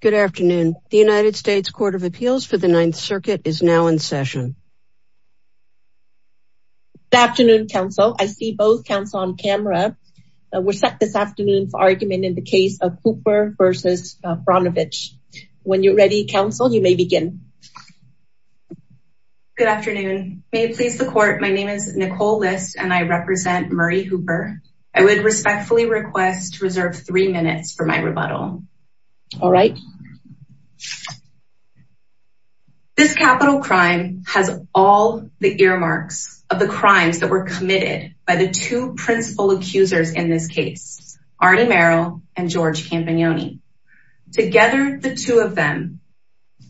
Good afternoon. The United States Court of Appeals for the Ninth Circuit is now in session. Good afternoon, counsel. I see both counsel on camera. We're set this afternoon for argument in the case of Hooper v. Brnovich. When you're ready, counsel, you may begin. Good afternoon. May it please the court, my name is Nicole List and I represent Murray Hooper. I would respectfully request to reserve three minutes for my rebuttal. All right. This capital crime has all the earmarks of the crimes that were committed by the two principal accusers in this case. Artie Merrill and George Campagnoni. Together, the two of them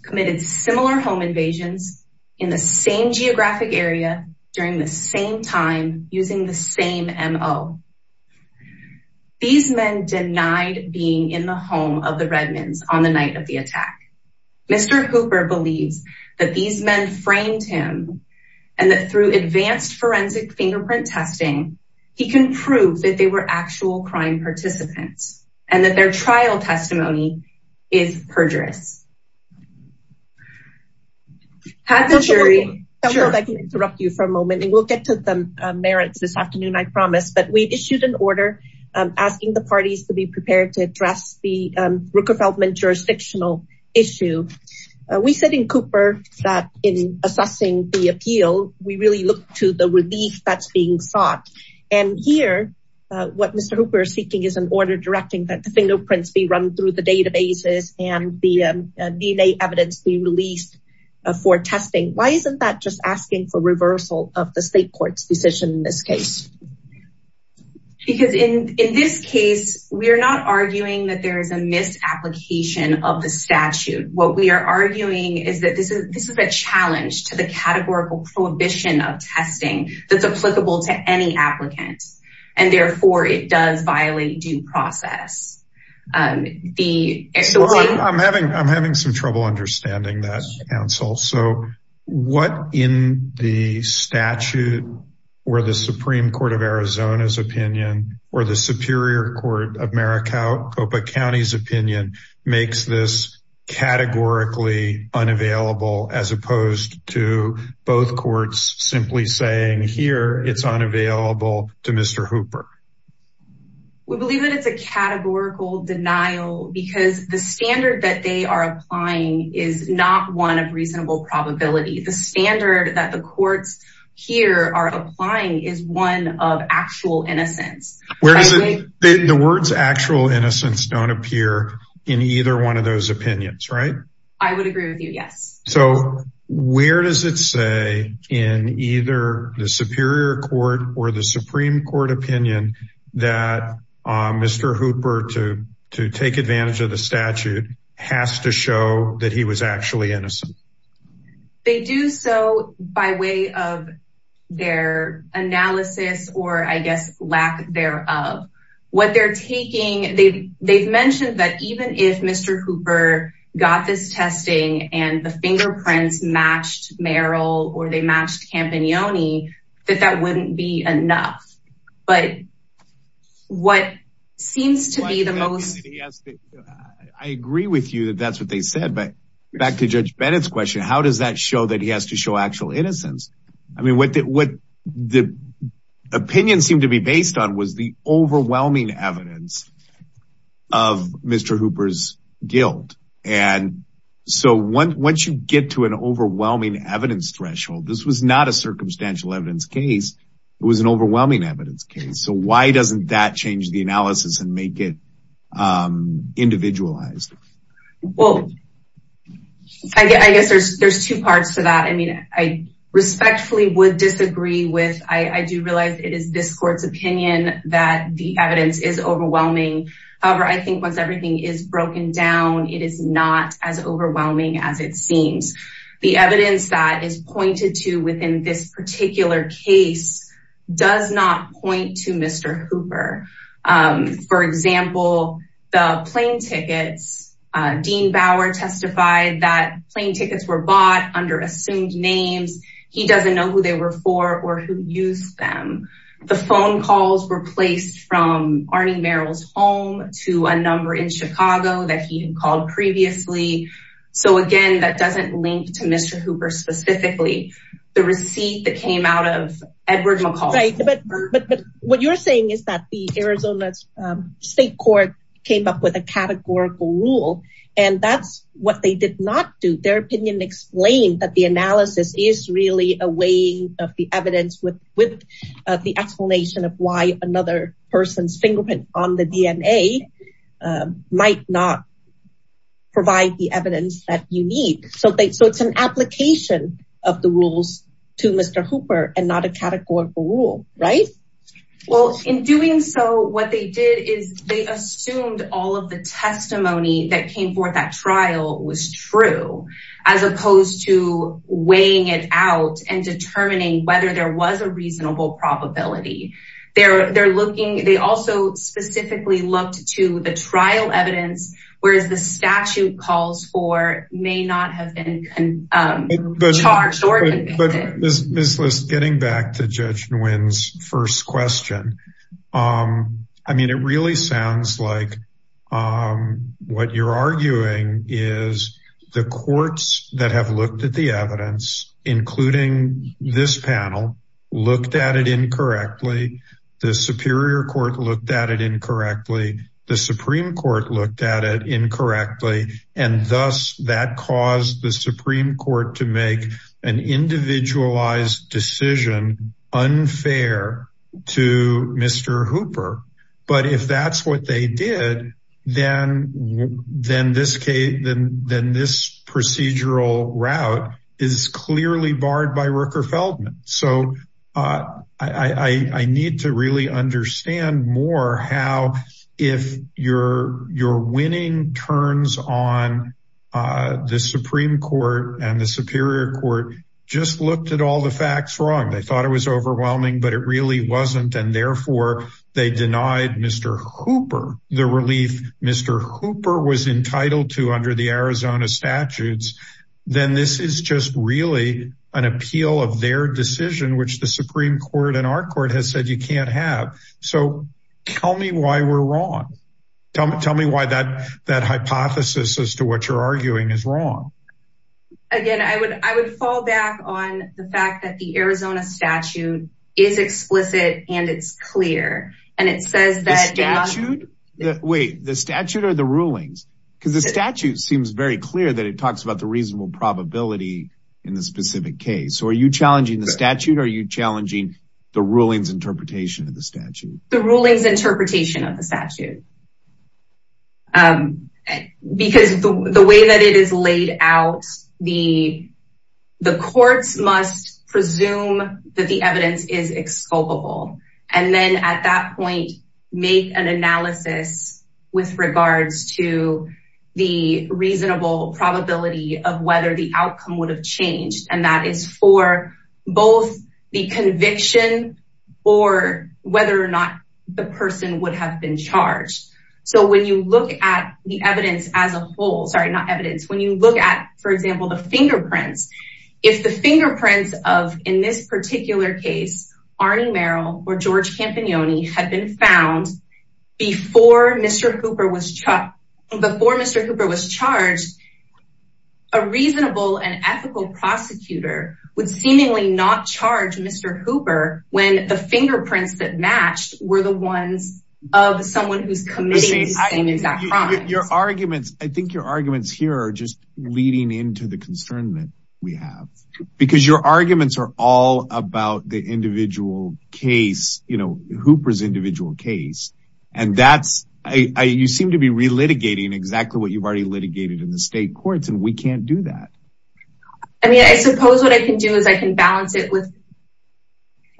committed similar home invasions in the same geographic area during the same time using the same M.O. These men denied being in the home of the Redmonds on the night of the attack. Mr. Hooper believes that these men framed him and that through advanced forensic fingerprint testing, he can prove that they were actual crime participants and that their trial testimony is perjurous. Counsel, if I can interrupt you for a moment and we'll get to the merits this afternoon, I promise, but we issued an order asking the parties to be prepared to address the Rooker-Feldman jurisdictional issue. We said in Cooper that in assessing the appeal, we really look to the relief that's being sought. And here, what Mr. Hooper is seeking is an order directing that the fingerprints be run through the databases and the DNA evidence be released for testing. Why isn't that just asking for reversal of the state court's decision in this case? Because in this case, we are not arguing that there is a misapplication of the statute. What we are arguing is that this is a challenge to the categorical prohibition of testing that's applicable to any applicant, and therefore it does violate due process. I'm having some trouble understanding that, Counsel. So what in the statute or the Supreme Court of Arizona's opinion or the Superior Court of Maricopa County's opinion makes this categorically unavailable as opposed to both courts simply saying here it's unavailable to Mr. Hooper? We believe that it's a categorical denial because the standard that they are applying is not one of reasonable probability. The standard that the courts here are applying is one of actual innocence. The words actual innocence don't appear in either one of those opinions, right? I would agree with you, yes. So where does it say in either the Superior Court or the Supreme Court opinion that Mr. Hooper to take advantage of the statute has to show that he was actually innocent? They do so by way of their analysis or I guess lack thereof. What they're taking, they've mentioned that even if Mr. Hooper got this testing and the fingerprints matched Merrill or they matched Campagnoni, that that wouldn't be enough. But what seems to be the most... I agree with you that that's what they said, but back to Judge Bennett's question, how does that show that he has to show actual innocence? I mean, what the opinion seemed to be based on was the overwhelming evidence of Mr. Hooper's guilt. And so once you get to an overwhelming evidence threshold, this was not a circumstantial evidence case, it was an overwhelming evidence case. So why doesn't that change the analysis and make it individualized? Well, I guess there's two parts to that. I mean, I respectfully would disagree with, I do realize it is this court's opinion that the evidence is overwhelming. However, I think once everything is broken down, it is not as overwhelming as it seems. The evidence that is pointed to within this particular case does not point to Mr. Hooper. For example, the plane tickets, Dean Bauer testified that plane tickets were bought under assumed names. He doesn't know who they were for or who used them. The phone calls were placed from Arnie Merrill's home to a number in Chicago that he had called previously. So again, that doesn't link to Mr. Hooper specifically. The receipt that came out of Edward McCall. But what you're saying is that the Arizona State Court came up with a categorical rule and that's what they did not do. Their opinion explained that the analysis is really a way of the evidence with the explanation of why another person's fingerprint on the DNA might not provide the evidence that you need. So it's an application of the rules to Mr. Hooper and not a categorical rule, right? Well, in doing so, what they did is they assumed all of the testimony that came forth at trial was true. As opposed to weighing it out and determining whether there was a reasonable probability. They also specifically looked to the trial evidence, whereas the statute calls for may not have been charged or convicted. Getting back to Judge Nguyen's first question. I mean, it really sounds like what you're arguing is the courts that have looked at the evidence, including this panel, looked at it incorrectly. The Superior Court looked at it incorrectly. The Supreme Court looked at it incorrectly. And thus that caused the Supreme Court to make an individualized decision unfair to Mr. Hooper. But if that's what they did, then this procedural route is clearly barred by Rooker-Feldman. So I need to really understand more how if you're winning turns on the Supreme Court and the Superior Court just looked at all the facts wrong. They thought it was overwhelming, but it really wasn't. And therefore, they denied Mr. Hooper the relief Mr. Hooper was entitled to under the Arizona statutes. Then this is just really an appeal of their decision, which the Supreme Court and our court has said you can't have. So tell me why we're wrong. Tell me why that that hypothesis as to what you're arguing is wrong. Again, I would I would fall back on the fact that the Arizona statute is explicit and it's clear. Wait, the statute or the rulings? Because the statute seems very clear that it talks about the reasonable probability in the specific case. So are you challenging the statute? Are you challenging the rulings interpretation of the statute? The rulings interpretation of the statute. Because the way that it is laid out, the the courts must presume that the evidence is exculpable. And then at that point, make an analysis with regards to the reasonable probability of whether the outcome would have changed. And that is for both the conviction or whether or not the person would have been charged. So when you look at the evidence as a whole, sorry, not evidence. When you look at, for example, the fingerprints, if the fingerprints of in this particular case, Arnie Merrill or George Campagnoni had been found before Mr. Cooper was before Mr. Cooper was charged, a reasonable and ethical prosecutor would seemingly not charge Mr. Cooper when the fingerprints that matched were the ones of someone who's committing the same exact crime. Your arguments, I think your arguments here are just leading into the concern that we have because your arguments are all about the individual case. You know, Hooper's individual case. And that's you seem to be relitigating exactly what you've already litigated in the state courts. And we can't do that. I mean, I suppose what I can do is I can balance it with.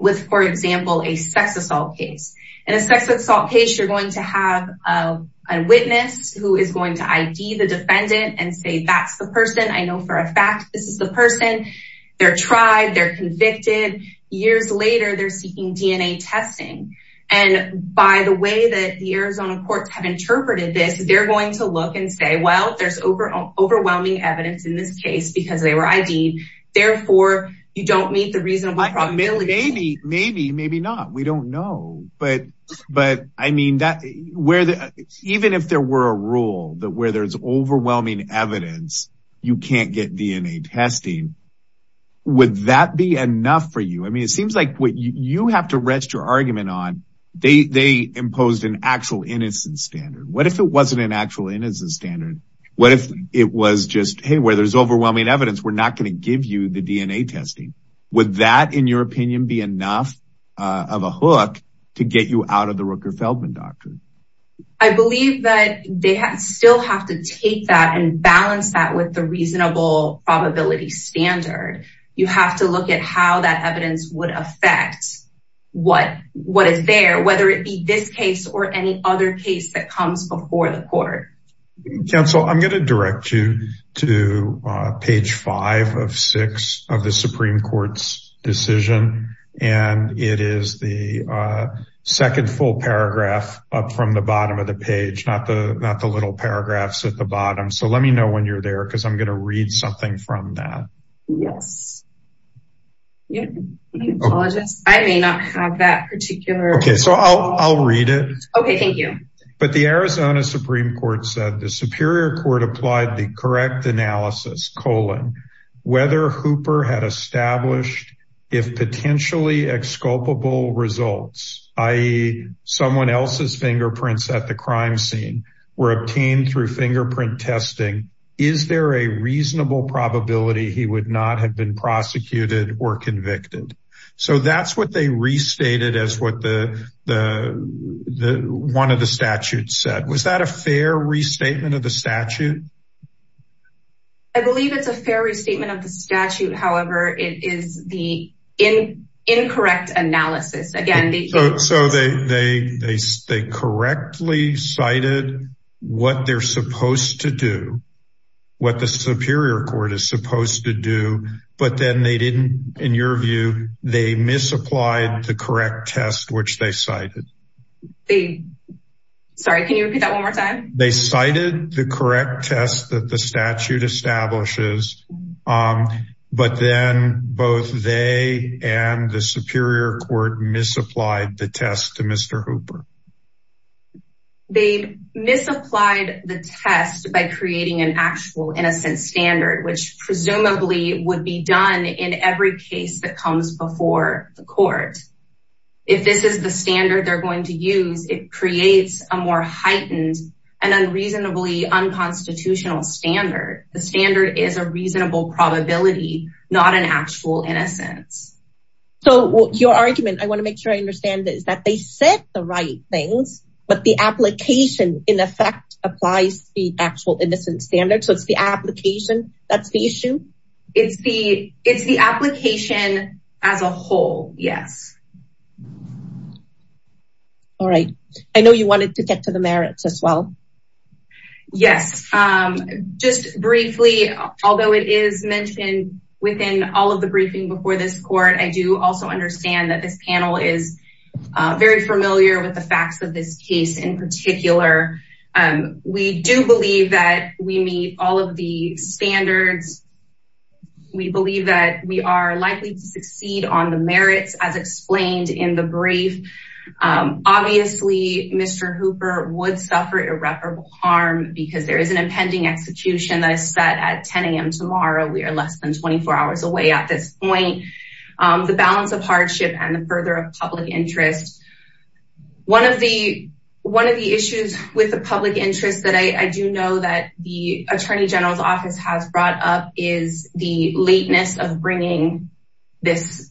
With, for example, a sex assault case and a sex assault case, you're going to have a witness who is going to ID the defendant and say, that's the person I know for a fact, this is the person they're tried, they're convicted. Years later, they're seeking DNA testing. And by the way that the Arizona courts have interpreted this, they're going to look and say, well, there's overwhelming evidence in this case because they were ID. Therefore, you don't meet the reasonable probability. Maybe, maybe, maybe not. We don't know. But but I mean, where even if there were a rule that where there's overwhelming evidence, you can't get DNA testing. Would that be enough for you? I mean, it seems like what you have to rest your argument on. They imposed an actual innocence standard. What if it wasn't an actual innocence standard? What if it was just, hey, where there's overwhelming evidence, we're not going to give you the DNA testing. Would that, in your opinion, be enough of a hook to get you out of the Rooker Feldman doctrine? I believe that they still have to take that and balance that with the reasonable probability standard. You have to look at how that evidence would affect what what is there, whether it be this case or any other case that comes before the court. Counsel, I'm going to direct you to page five of six of the Supreme Court's decision. And it is the second full paragraph up from the bottom of the page, not the not the little paragraphs at the bottom. So let me know when you're there because I'm going to read something from that. Yes. I may not have that particular. OK, so I'll read it. OK, thank you. But the Arizona Supreme Court said the Superior Court applied the correct analysis. Colin, whether Hooper had established if potentially exculpable results, i.e. someone else's fingerprints at the crime scene were obtained through fingerprint testing. Is there a reasonable probability he would not have been prosecuted or convicted? So that's what they restated as what the the the one of the statute said. Was that a fair restatement of the statute? I believe it's a fair restatement of the statute. However, it is the in incorrect analysis again. So they they they correctly cited what they're supposed to do, what the Superior Court is supposed to do. But then they didn't. In your view, they misapplied the correct test, which they cited. Sorry, can you repeat that one more time? They cited the correct test that the statute establishes. But then both they and the Superior Court misapplied the test to Mr. Hooper. They misapplied the test by creating an actual innocent standard, which presumably would be done in every case that comes before the court. If this is the standard they're going to use, it creates a more heightened and unreasonably unconstitutional standard. The standard is a reasonable probability, not an actual innocence. So your argument I want to make sure I understand is that they said the right things. But the application, in effect, applies the actual innocent standard. So it's the application. That's the issue. It's the it's the application as a whole. Yes. All right. I know you wanted to get to the merits as well. Yes. Just briefly, although it is mentioned within all of the briefing before this court, I do also understand that this panel is very familiar with the facts of this case in particular. We do believe that we meet all of the standards. We believe that we are likely to succeed on the merits as explained in the brief. Obviously, Mr. Hooper would suffer irreparable harm because there is an impending execution that is set at 10 a.m. tomorrow. We are less than 24 hours away at this point. The balance of hardship and the further of public interest. One of the one of the issues with the public interest that I do know that the attorney general's office has brought up is the lateness of bringing this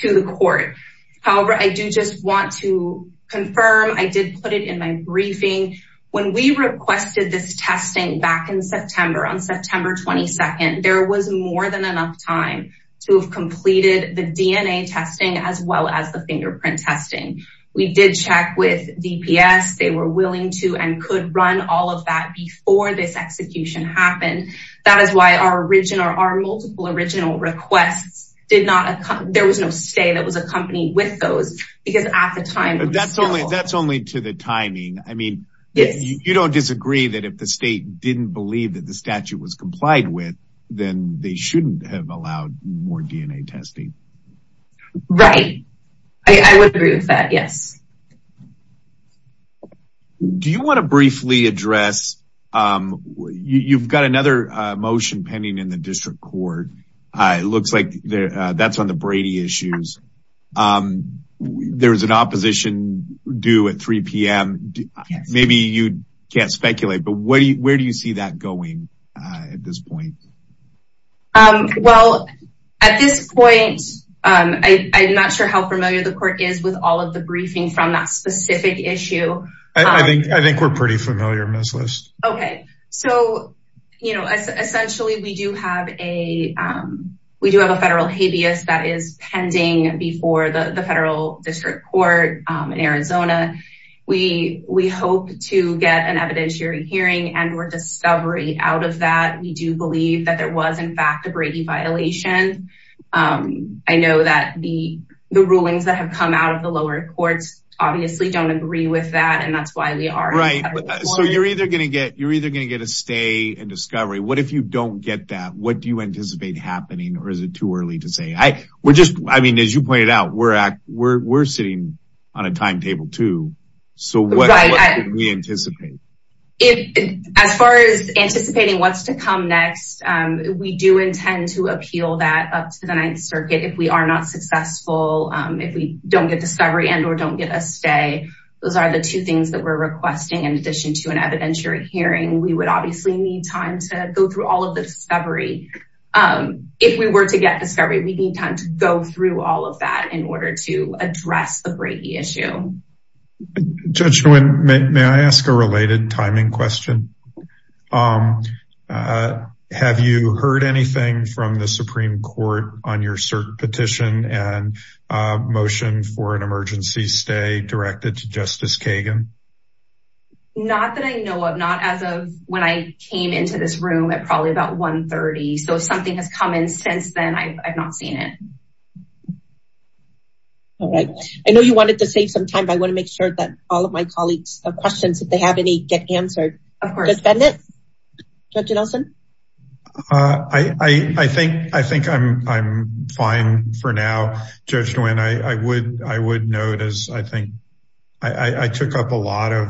to the court. However, I do just want to confirm I did put it in my briefing when we requested this testing back in September on September 22nd. There was more than enough time to have completed the DNA testing as well as the fingerprint testing. We did check with DPS. They were willing to and could run all of that before this execution happened. That is why our original are multiple original requests did not. There was no state that was a company with those because at the time, that's only that's only to the timing. I mean, you don't disagree that if the state didn't believe that the statute was complied with, then they shouldn't have allowed more DNA testing. Right. I would agree with that. Yes. Do you want to briefly address? You've got another motion pending in the district court. It looks like that's on the Brady issues. There is an opposition due at 3 p.m. Maybe you can't speculate, but where do you see that going at this point? Well, at this point, I'm not sure how familiar the court is with all of the briefing from that specific issue. I think I think we're pretty familiar on this list. OK, so, you know, essentially we do have a we do have a federal habeas that is pending before the federal district court in Arizona. We we hope to get an evidentiary hearing and we're discovering out of that. We do believe that there was, in fact, a Brady violation. I know that the the rulings that have come out of the lower courts obviously don't agree with that. And that's why we are right. So you're either going to get you're either going to get a stay and discovery. What if you don't get that? What do you anticipate happening or is it too early to say? I would just I mean, as you pointed out, we're at we're sitting on a timetable, too. We anticipate it as far as anticipating what's to come next. We do intend to appeal that up to the Ninth Circuit if we are not successful, if we don't get discovery and or don't get a stay. Those are the two things that we're requesting. In addition to an evidentiary hearing, we would obviously need time to go through all of the discovery. If we were to get discovery, we need time to go through all of that in order to address the Brady issue. Judge Nguyen, may I ask a related timing question? Have you heard anything from the Supreme Court on your cert petition and motion for an emergency stay directed to Justice Kagan? Not that I know of, not as of when I came into this room at probably about one thirty. So if something has come in since then, I've not seen it. All right. I know you wanted to save some time, but I want to make sure that all of my colleagues have questions, if they have any, get answered. Of course. Judge Bennet? Judge Nelson? I think I think I'm I'm fine for now. Judge Nguyen, I would I would note, as I think I took up a lot of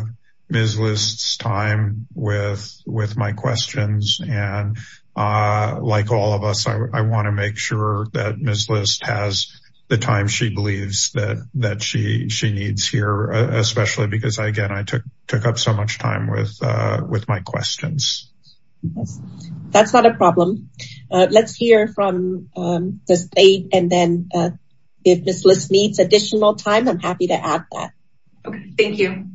Ms. List's time with with my questions. And like all of us, I want to make sure that Ms. List has the time she believes that that she she needs here, especially because, again, I took took up so much time with with my questions. That's not a problem. Let's hear from the state. And then if Ms. List needs additional time, I'm happy to add that. Thank you.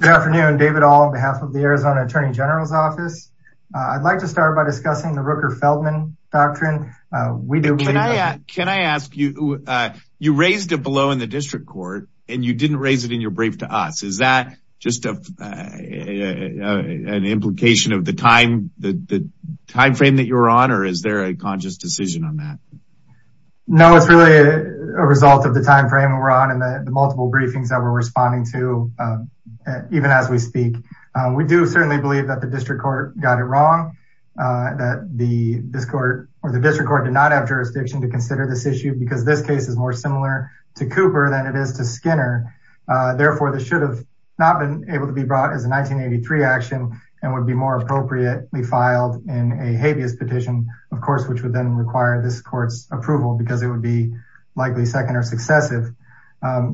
Good afternoon, David. All on behalf of the Arizona Attorney General's office, I'd like to start by discussing the Rooker-Feldman doctrine. Can I ask you, you raised a blow in the district court and you didn't raise it in your brief to us. Is that just an implication of the time, the time frame that you're on? Or is there a conscious decision on that? No, it's really a result of the time frame we're on and the multiple briefings that we're responding to, even as we speak. We do certainly believe that the district court got it wrong, that the district court did not have jurisdiction to consider this issue because this case is more similar to Cooper than it is to Skinner. Therefore, this should have not been able to be brought as a 1983 action and would be more appropriately filed in a habeas petition, of course, which would then require this court's approval because it would be likely second or successive.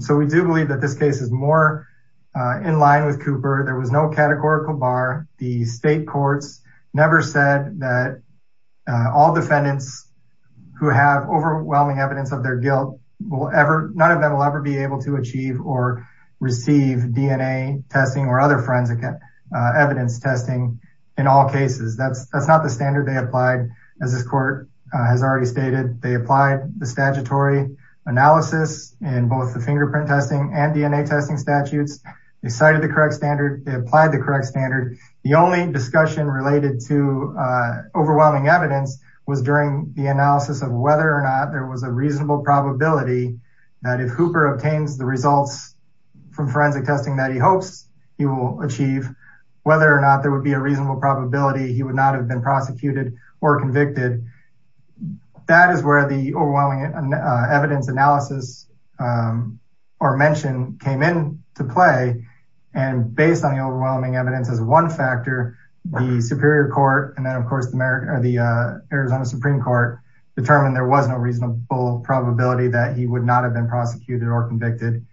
So we do believe that this case is more in line with Cooper. There was no categorical bar. The state courts never said that all defendants who have overwhelming evidence of their guilt, none of them will ever be able to achieve or receive DNA testing or other forensic evidence testing in all cases. That's not the standard they applied. As this court has already stated, they applied the statutory analysis in both the fingerprint testing and DNA testing statutes. They cited the correct standard, they applied the correct standard. The only discussion related to overwhelming evidence was during the analysis of whether or not there was a reasonable probability that if Hooper obtains the results from forensic testing that he hopes he will achieve, whether or not there would be a reasonable probability he would not have been prosecuted or convicted. That is where the overwhelming evidence analysis or mention came in to play. And based on the overwhelming evidence as one factor, the Superior Court and then, of course, the Arizona Supreme Court determined there was no reasonable probability that he would not have been prosecuted or convicted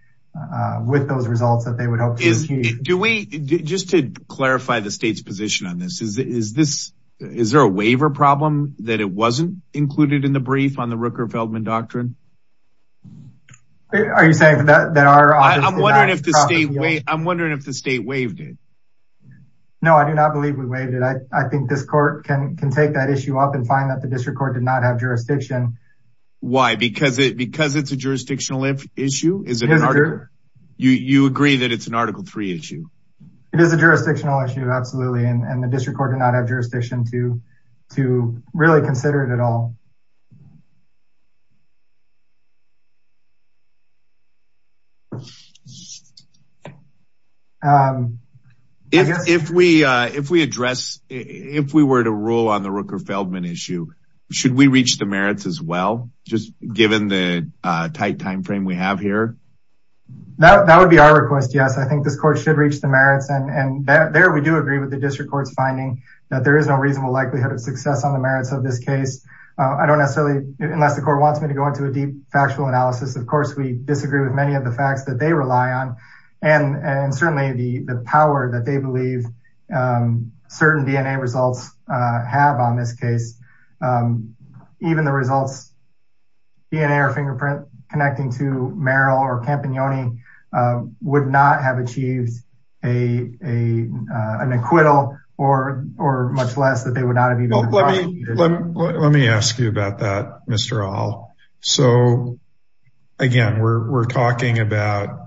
with those results that they would hope. Just to clarify the state's position on this, is there a waiver problem that it wasn't included in the brief on the Rooker-Feldman Doctrine? Are you saying that there are... I'm wondering if the state waived it. No, I do not believe we waived it. I think this court can take that issue up and find that the district court did not have jurisdiction. Why? Because it's a jurisdictional issue? You agree that it's an Article 3 issue? It is a jurisdictional issue, absolutely. And the district court did not have jurisdiction to really consider it at all. If we were to rule on the Rooker-Feldman issue, should we reach the merits as well, just given the tight timeframe we have here? That would be our request, yes. I think this court should reach the merits. And there we do agree with the district court's finding that there is no reasonable likelihood of success on the merits of this case. I don't necessarily, unless the court wants me to go into a deep factual analysis. Of course, we disagree with many of the facts that they rely on. And certainly the power that they believe certain DNA results have on this case. Even the results, DNA or fingerprint connecting to Merrill or Campignoni would not have achieved an acquittal or much less that they would not have even... Let me ask you about that, Mr. Ahl. So again, we're talking about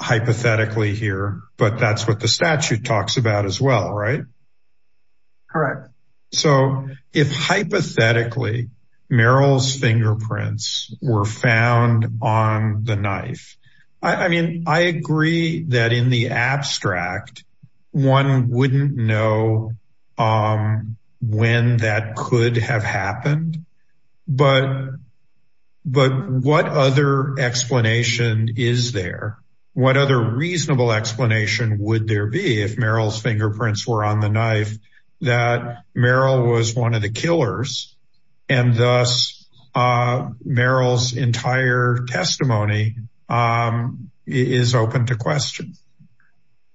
hypothetically here, but that's what the statute talks about as well, right? Correct. So if hypothetically, Merrill's fingerprints were found on the knife. I mean, I agree that in the abstract, one wouldn't know when that could have happened, but what other explanation is there? What other reasonable explanation would there be if Merrill's fingerprints were on the knife that Merrill was one of the killers? And thus Merrill's entire testimony is open to questions.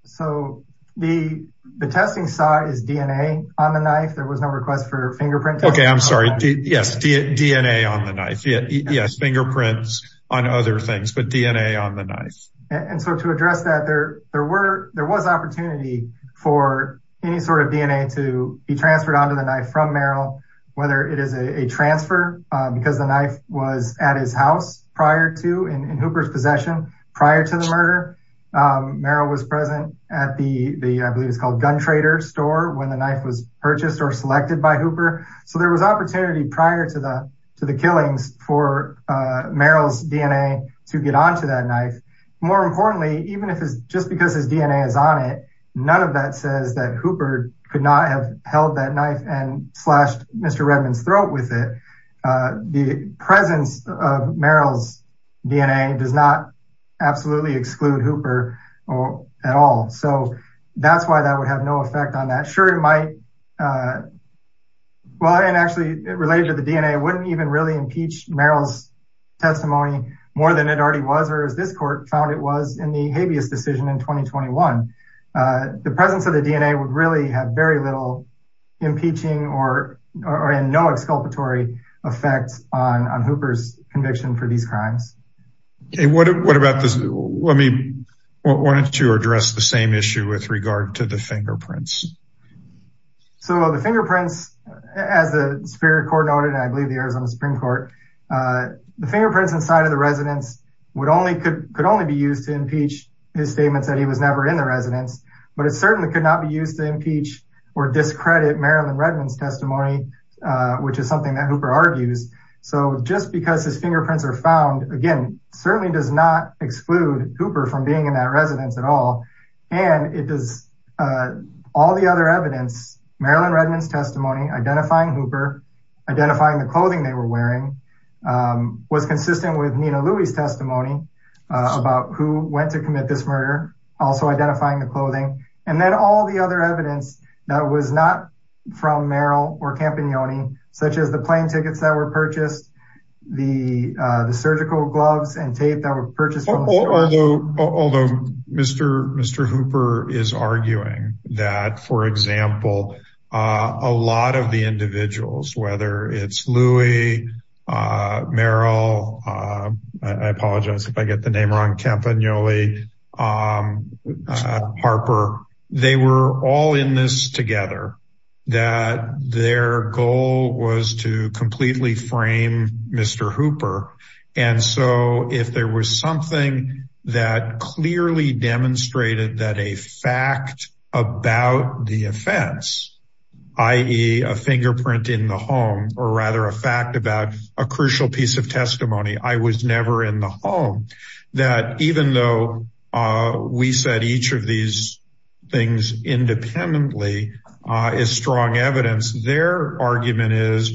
So the testing site is DNA on the knife. There was no request for fingerprint. Okay, I'm sorry. Yes. DNA on the knife. Yes. Fingerprints on other things, but DNA on the knife. And so to address that, there was opportunity for any sort of DNA to be transferred onto the knife from Merrill, whether it is a transfer because the knife was at his house prior to in Hooper's possession prior to the murder. Merrill was present at the, I believe it's called gun trader store when the knife was purchased or selected by Hooper. So there was opportunity prior to the killings for Merrill's DNA to get onto that knife. More importantly, even if it's just because his DNA is on it, none of that says that Hooper could not have held that knife and slashed Mr. Redman's throat with it. The presence of Merrill's DNA does not absolutely exclude Hooper at all. So that's why that would have no effect on that. I'm sure it might. Well, and actually related to the DNA wouldn't even really impeach Merrill's testimony more than it already was, or as this court found it was in the habeas decision in 2021. The presence of the DNA would really have very little impeaching or in no exculpatory effects on Hooper's conviction for these crimes. What about this? Why don't you address the same issue with regard to the fingerprints? So the fingerprints, as the Superior Court noted, I believe the Arizona Supreme Court, the fingerprints inside of the residence could only be used to impeach his statements that he was never in the residence. But it certainly could not be used to impeach or discredit Merrill Redman's testimony, which is something that Hooper argues. So just because his fingerprints are found, again, certainly does not exclude Hooper from being in that residence at all. And it is all the other evidence, Merrill and Redman's testimony, identifying Hooper, identifying the clothing they were wearing, was consistent with Nina Louie's testimony about who went to commit this murder, also identifying the clothing. And then all the other evidence that was not from Merrill or Campagnoli, such as the plane tickets that were purchased, the surgical gloves and tape that were purchased. Although Mr. Hooper is arguing that, for example, a lot of the individuals, whether it's Louie, Merrill, I apologize if I get the name wrong, Campagnoli, Harper, they were all in this together, that their goal was to completely frame Mr. Hooper. And so if there was something that clearly demonstrated that a fact about the offense, i.e. a fingerprint in the home, or rather a fact about a crucial piece of testimony, I was never in the home, that even though we said each of these things independently is strong evidence, their argument is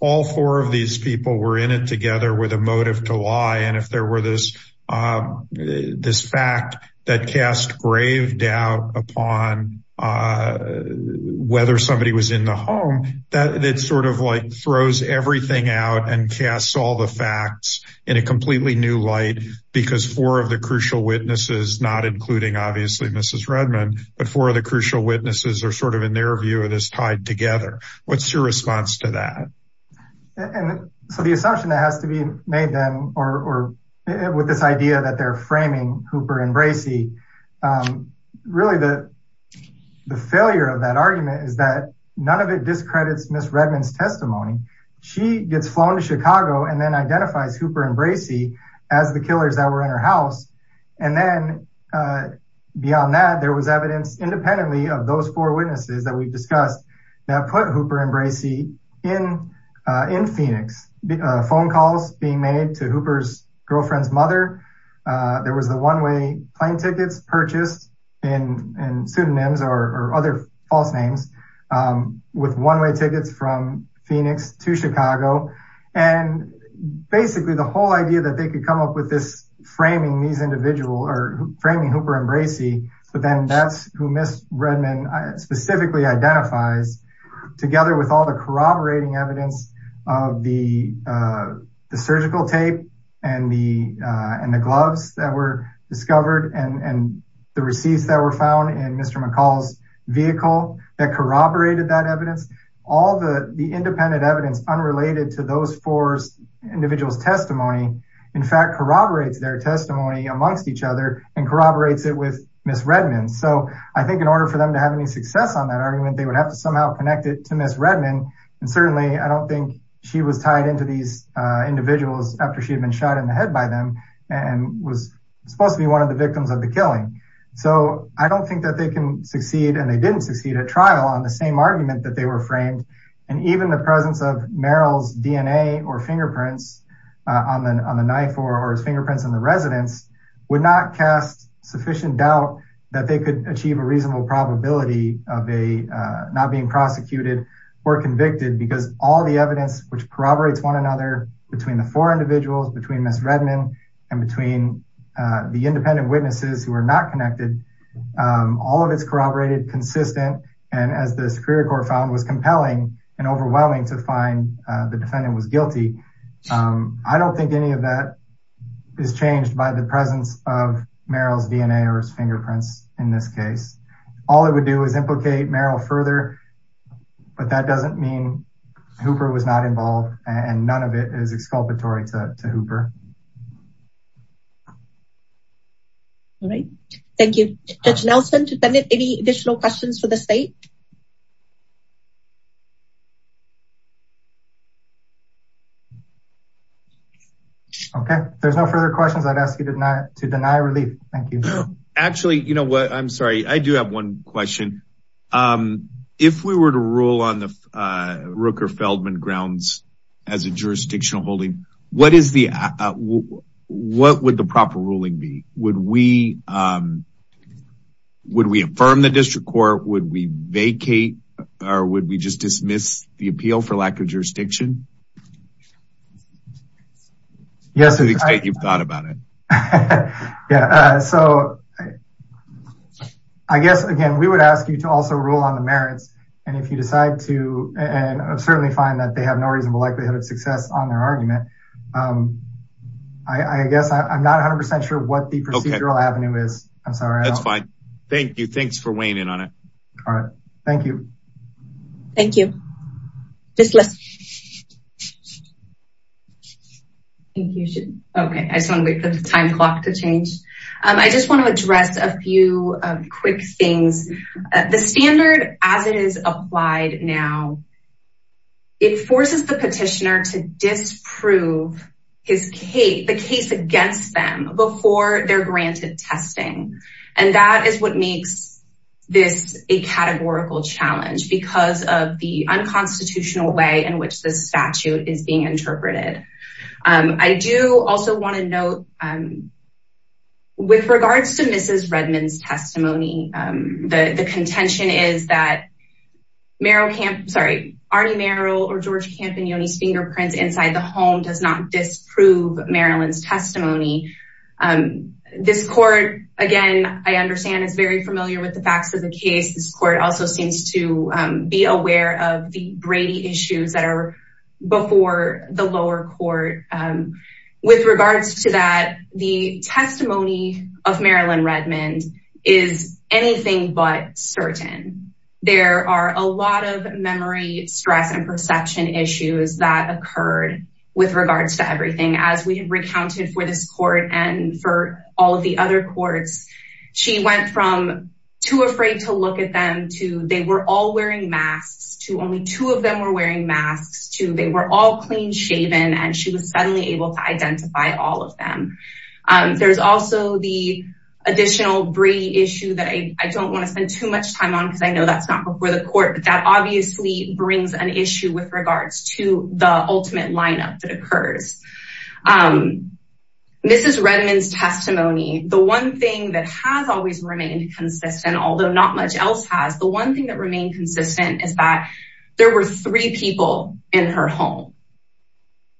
all four of these people were in it together with a motive to lie. And if there were this fact that cast grave doubt upon whether somebody was in the home, that sort of like throws everything out and casts all the facts in a completely new light, because four of the crucial witnesses, not including, obviously, Mrs. Redman, but four of the crucial witnesses are sort of, in their view, it is tied together. What's your response to that? And so the assumption that has to be made then, or with this idea that they're framing Hooper and Bracey, really the failure of that argument is that none of it discredits Mrs. Redman's testimony. She gets flown to Chicago and then identifies Hooper and Bracey as the killers that were in her house. And then beyond that, there was evidence independently of those four witnesses that we've discussed that put Hooper and Bracey in Phoenix. Phone calls being made to Hooper's girlfriend's mother. There was the one-way plane tickets purchased in pseudonyms or other false names with one-way tickets from Phoenix to Chicago. And basically the whole idea that they could come up with this framing these individual or framing Hooper and Bracey, but then that's who Mrs. Redman specifically identifies together with all the corroborating evidence of the surgical tape and the gloves that were discovered and the receipts that were found in Mr. McCall's vehicle that corroborated that evidence. All the independent evidence unrelated to those four individuals' testimony, in fact, corroborates their testimony amongst each other and corroborates it with Mrs. Redman. So I think in order for them to have any success on that argument, they would have to somehow connect it to Mrs. Redman. And certainly I don't think she was tied into these individuals after she had been shot in the head by them and was supposed to be one of the victims of the killing. So I don't think that they can succeed and they didn't succeed at trial on the same argument that they were framed. And even the presence of Merrill's DNA or fingerprints on the knife or his fingerprints on the residence would not cast sufficient doubt that they could achieve a reasonable probability of a not being prosecuted or convicted because all the evidence, which corroborates one another, between the four individuals, between Mrs. Redman and between the independent witnesses who are not connected, all of it's corroborated consistent and as the Superior Court found was compelling and overwhelming to find the defendant was guilty. I don't think any of that is changed by the presence of Merrill's DNA or his fingerprints in this case. All it would do is implicate Merrill further, but that doesn't mean Hooper was not involved and none of it is exculpatory to Hooper. All right. Thank you. Judge Nelson, any additional questions for the state? Okay. There's no further questions. I'd ask you to deny relief. Thank you. Actually, you know what? I'm sorry. I do have one question. If we were to rule on the Rooker-Feldman grounds as a jurisdictional holding, what would the proper ruling be? Would we affirm the district court? Would we vacate or would we just dismiss the appeal for lack of jurisdiction? Yes, you've thought about it. Yeah. So I guess, again, we would ask you to also rule on the merits. And if you decide to, and certainly find that they have no reasonable likelihood of success on their argument, I guess I'm not 100% sure what the procedural avenue is. I'm sorry. That's fine. Thank you. Thanks for weighing in on it. All right. Thank you. Thank you. Okay. I just want to wait for the time clock to change. I just want to address a few quick things. The standard as it is applied now, it forces the petitioner to disprove the case against them before they're granted testing. And that is what makes this a categorical challenge because of the unconstitutional way in which this statute is being interpreted. I do also want to note, with regards to Mrs. Redmond's testimony, the contention is that Arnie Merrill or George Campagnoni's fingerprints inside the home does not disprove Marilyn's testimony. This court, again, I understand is very familiar with the facts of the case. This court also seems to be aware of the Brady issues that are before the lower court. With regards to that, the testimony of Marilyn Redmond is anything but certain. There are a lot of memory, stress, and perception issues that occurred with regards to everything. As we have recounted for this court and for all of the other courts, she went from too afraid to look at them, to they were all wearing masks, to only two of them were wearing masks, to they were all clean shaven, and she was suddenly able to identify all of them. There's also the additional Brady issue that I don't want to spend too much time on because I know that's not before the court, but that obviously brings an issue with regards to the ultimate lineup that occurs. Mrs. Redmond's testimony, the one thing that has always remained consistent, although not much else has, the one thing that remained consistent is that there were three people in her home.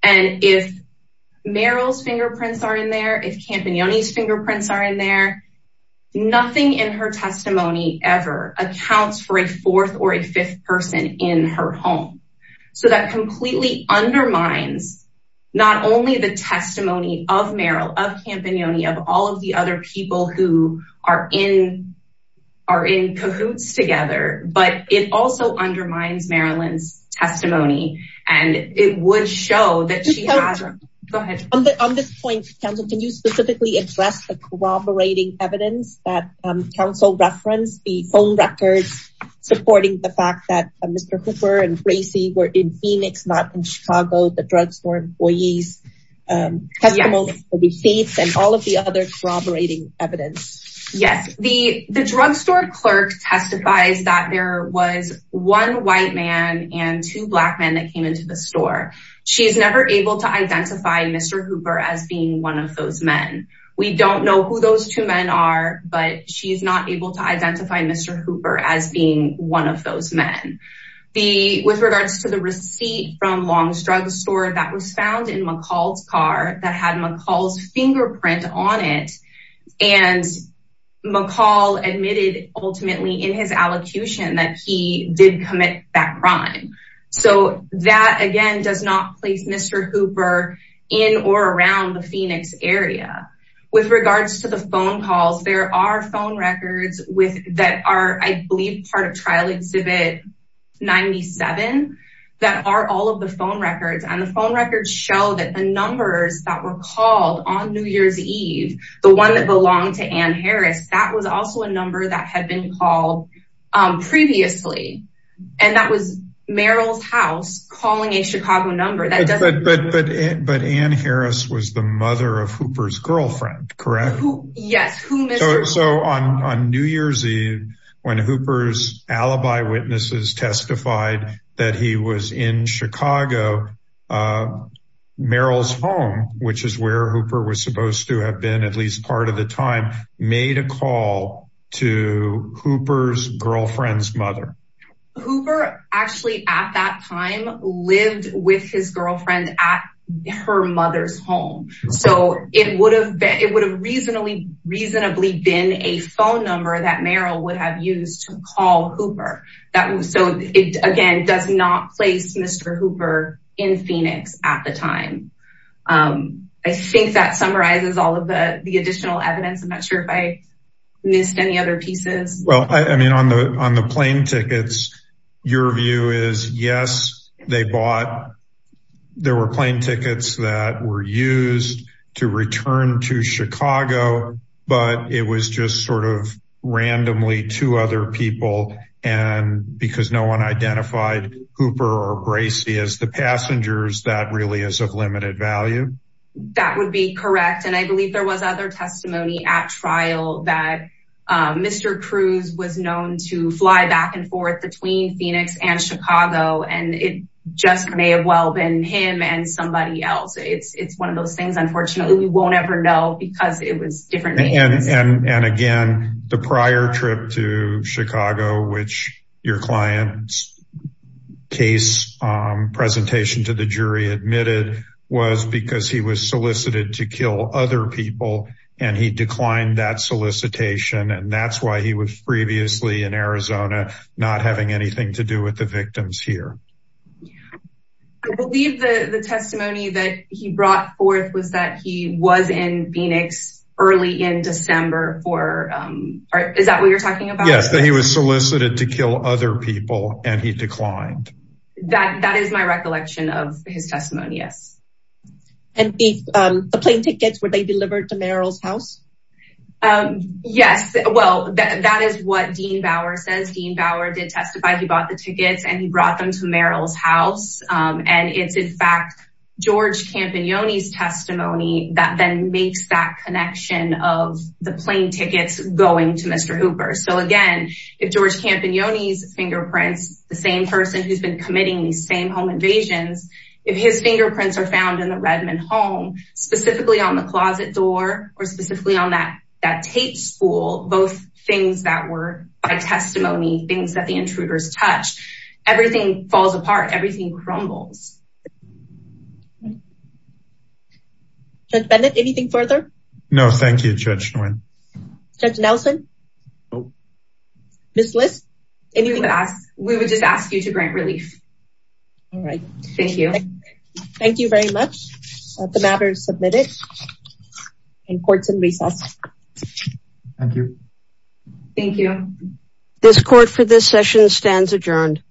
If Meryl's fingerprints are in there, if Campagnoni's fingerprints are in there, nothing in her testimony ever accounts for a fourth or a fifth person in her home. So that completely undermines not only the testimony of Meryl, of Campagnoni, of all of the other people who are in cahoots together, but it also undermines Marilyn's testimony. And it would show that she has- She's never able to identify Mr. Hooper as being one of those men. We don't know who those two men are, but she's not able to identify Mr. Hooper as being one of those men. With regards to the receipt from Long's Drugstore that was found in McCall's car that had McCall's fingerprint on it, and McCall admitted ultimately in his allocution that he did commit that crime. So that, again, does not place Mr. Hooper in or around the Phoenix area. With regards to the phone calls, there are phone records that are, I believe, part of Trial Exhibit 97 that are all of the phone records. And the phone records show that the numbers that were called on New Year's Eve, the one that belonged to Ann Harris, that was also a number that had been called previously. And that was Meryl's house calling a Chicago number. But Ann Harris was the mother of Hooper's girlfriend, correct? Yes. So on New Year's Eve, when Hooper's alibi witnesses testified that he was in Chicago, Meryl's home, which is where Hooper was supposed to have been at least part of the time, made a call to Hooper's girlfriend's mother. Hooper actually at that time lived with his girlfriend at her mother's home. So it would have reasonably been a phone number that Meryl would have used to call Hooper. So it, again, does not place Mr. Hooper in Phoenix at the time. I think that summarizes all of the additional evidence. I'm not sure if I missed any other pieces. Well, I mean, on the plane tickets, your view is, yes, they bought. There were plane tickets that were used to return to Chicago, but it was just sort of randomly to other people. And because no one identified Hooper or Gracie as the passengers, that really is of limited value. That would be correct. And I believe there was other testimony at trial that Mr. Cruz was known to fly back and forth between Phoenix and Chicago, and it just may have well been him and somebody else. It's one of those things. Unfortunately, we won't ever know because it was different. And again, the prior trip to Chicago, which your client's case presentation to the jury admitted was because he was solicited to kill other people and he declined that solicitation. And that's why he was previously in Arizona, not having anything to do with the victims here. I believe the testimony that he brought forth was that he was in Phoenix early in December for. Is that what you're talking about? Yes. That he was solicited to kill other people and he declined that. That is my recollection of his testimony. Yes. And the plane tickets were they delivered to Merrill's house? Yes. Well, that is what Dean Bauer says. Dean Bauer did testify. He bought the tickets and he brought them to Merrill's house. And it's, in fact, George Campagnoni's testimony that then makes that connection of the plane tickets going to Mr. Hooper. So, again, if George Campagnoni's fingerprints, the same person who's been committing these same home invasions, if his fingerprints are found in the Redmond home, specifically on the closet door or specifically on that tape spool, both things that were by testimony, things that the intruders touched, everything falls apart. Everything crumbles. Judge Bennett, anything further? No, thank you, Judge Nguyen. Judge Nelson? Miss List? We would just ask you to grant relief. All right. Thank you. Thank you very much. The matter is submitted. And courts in recess. Thank you. Thank you. This court for this session stands adjourned.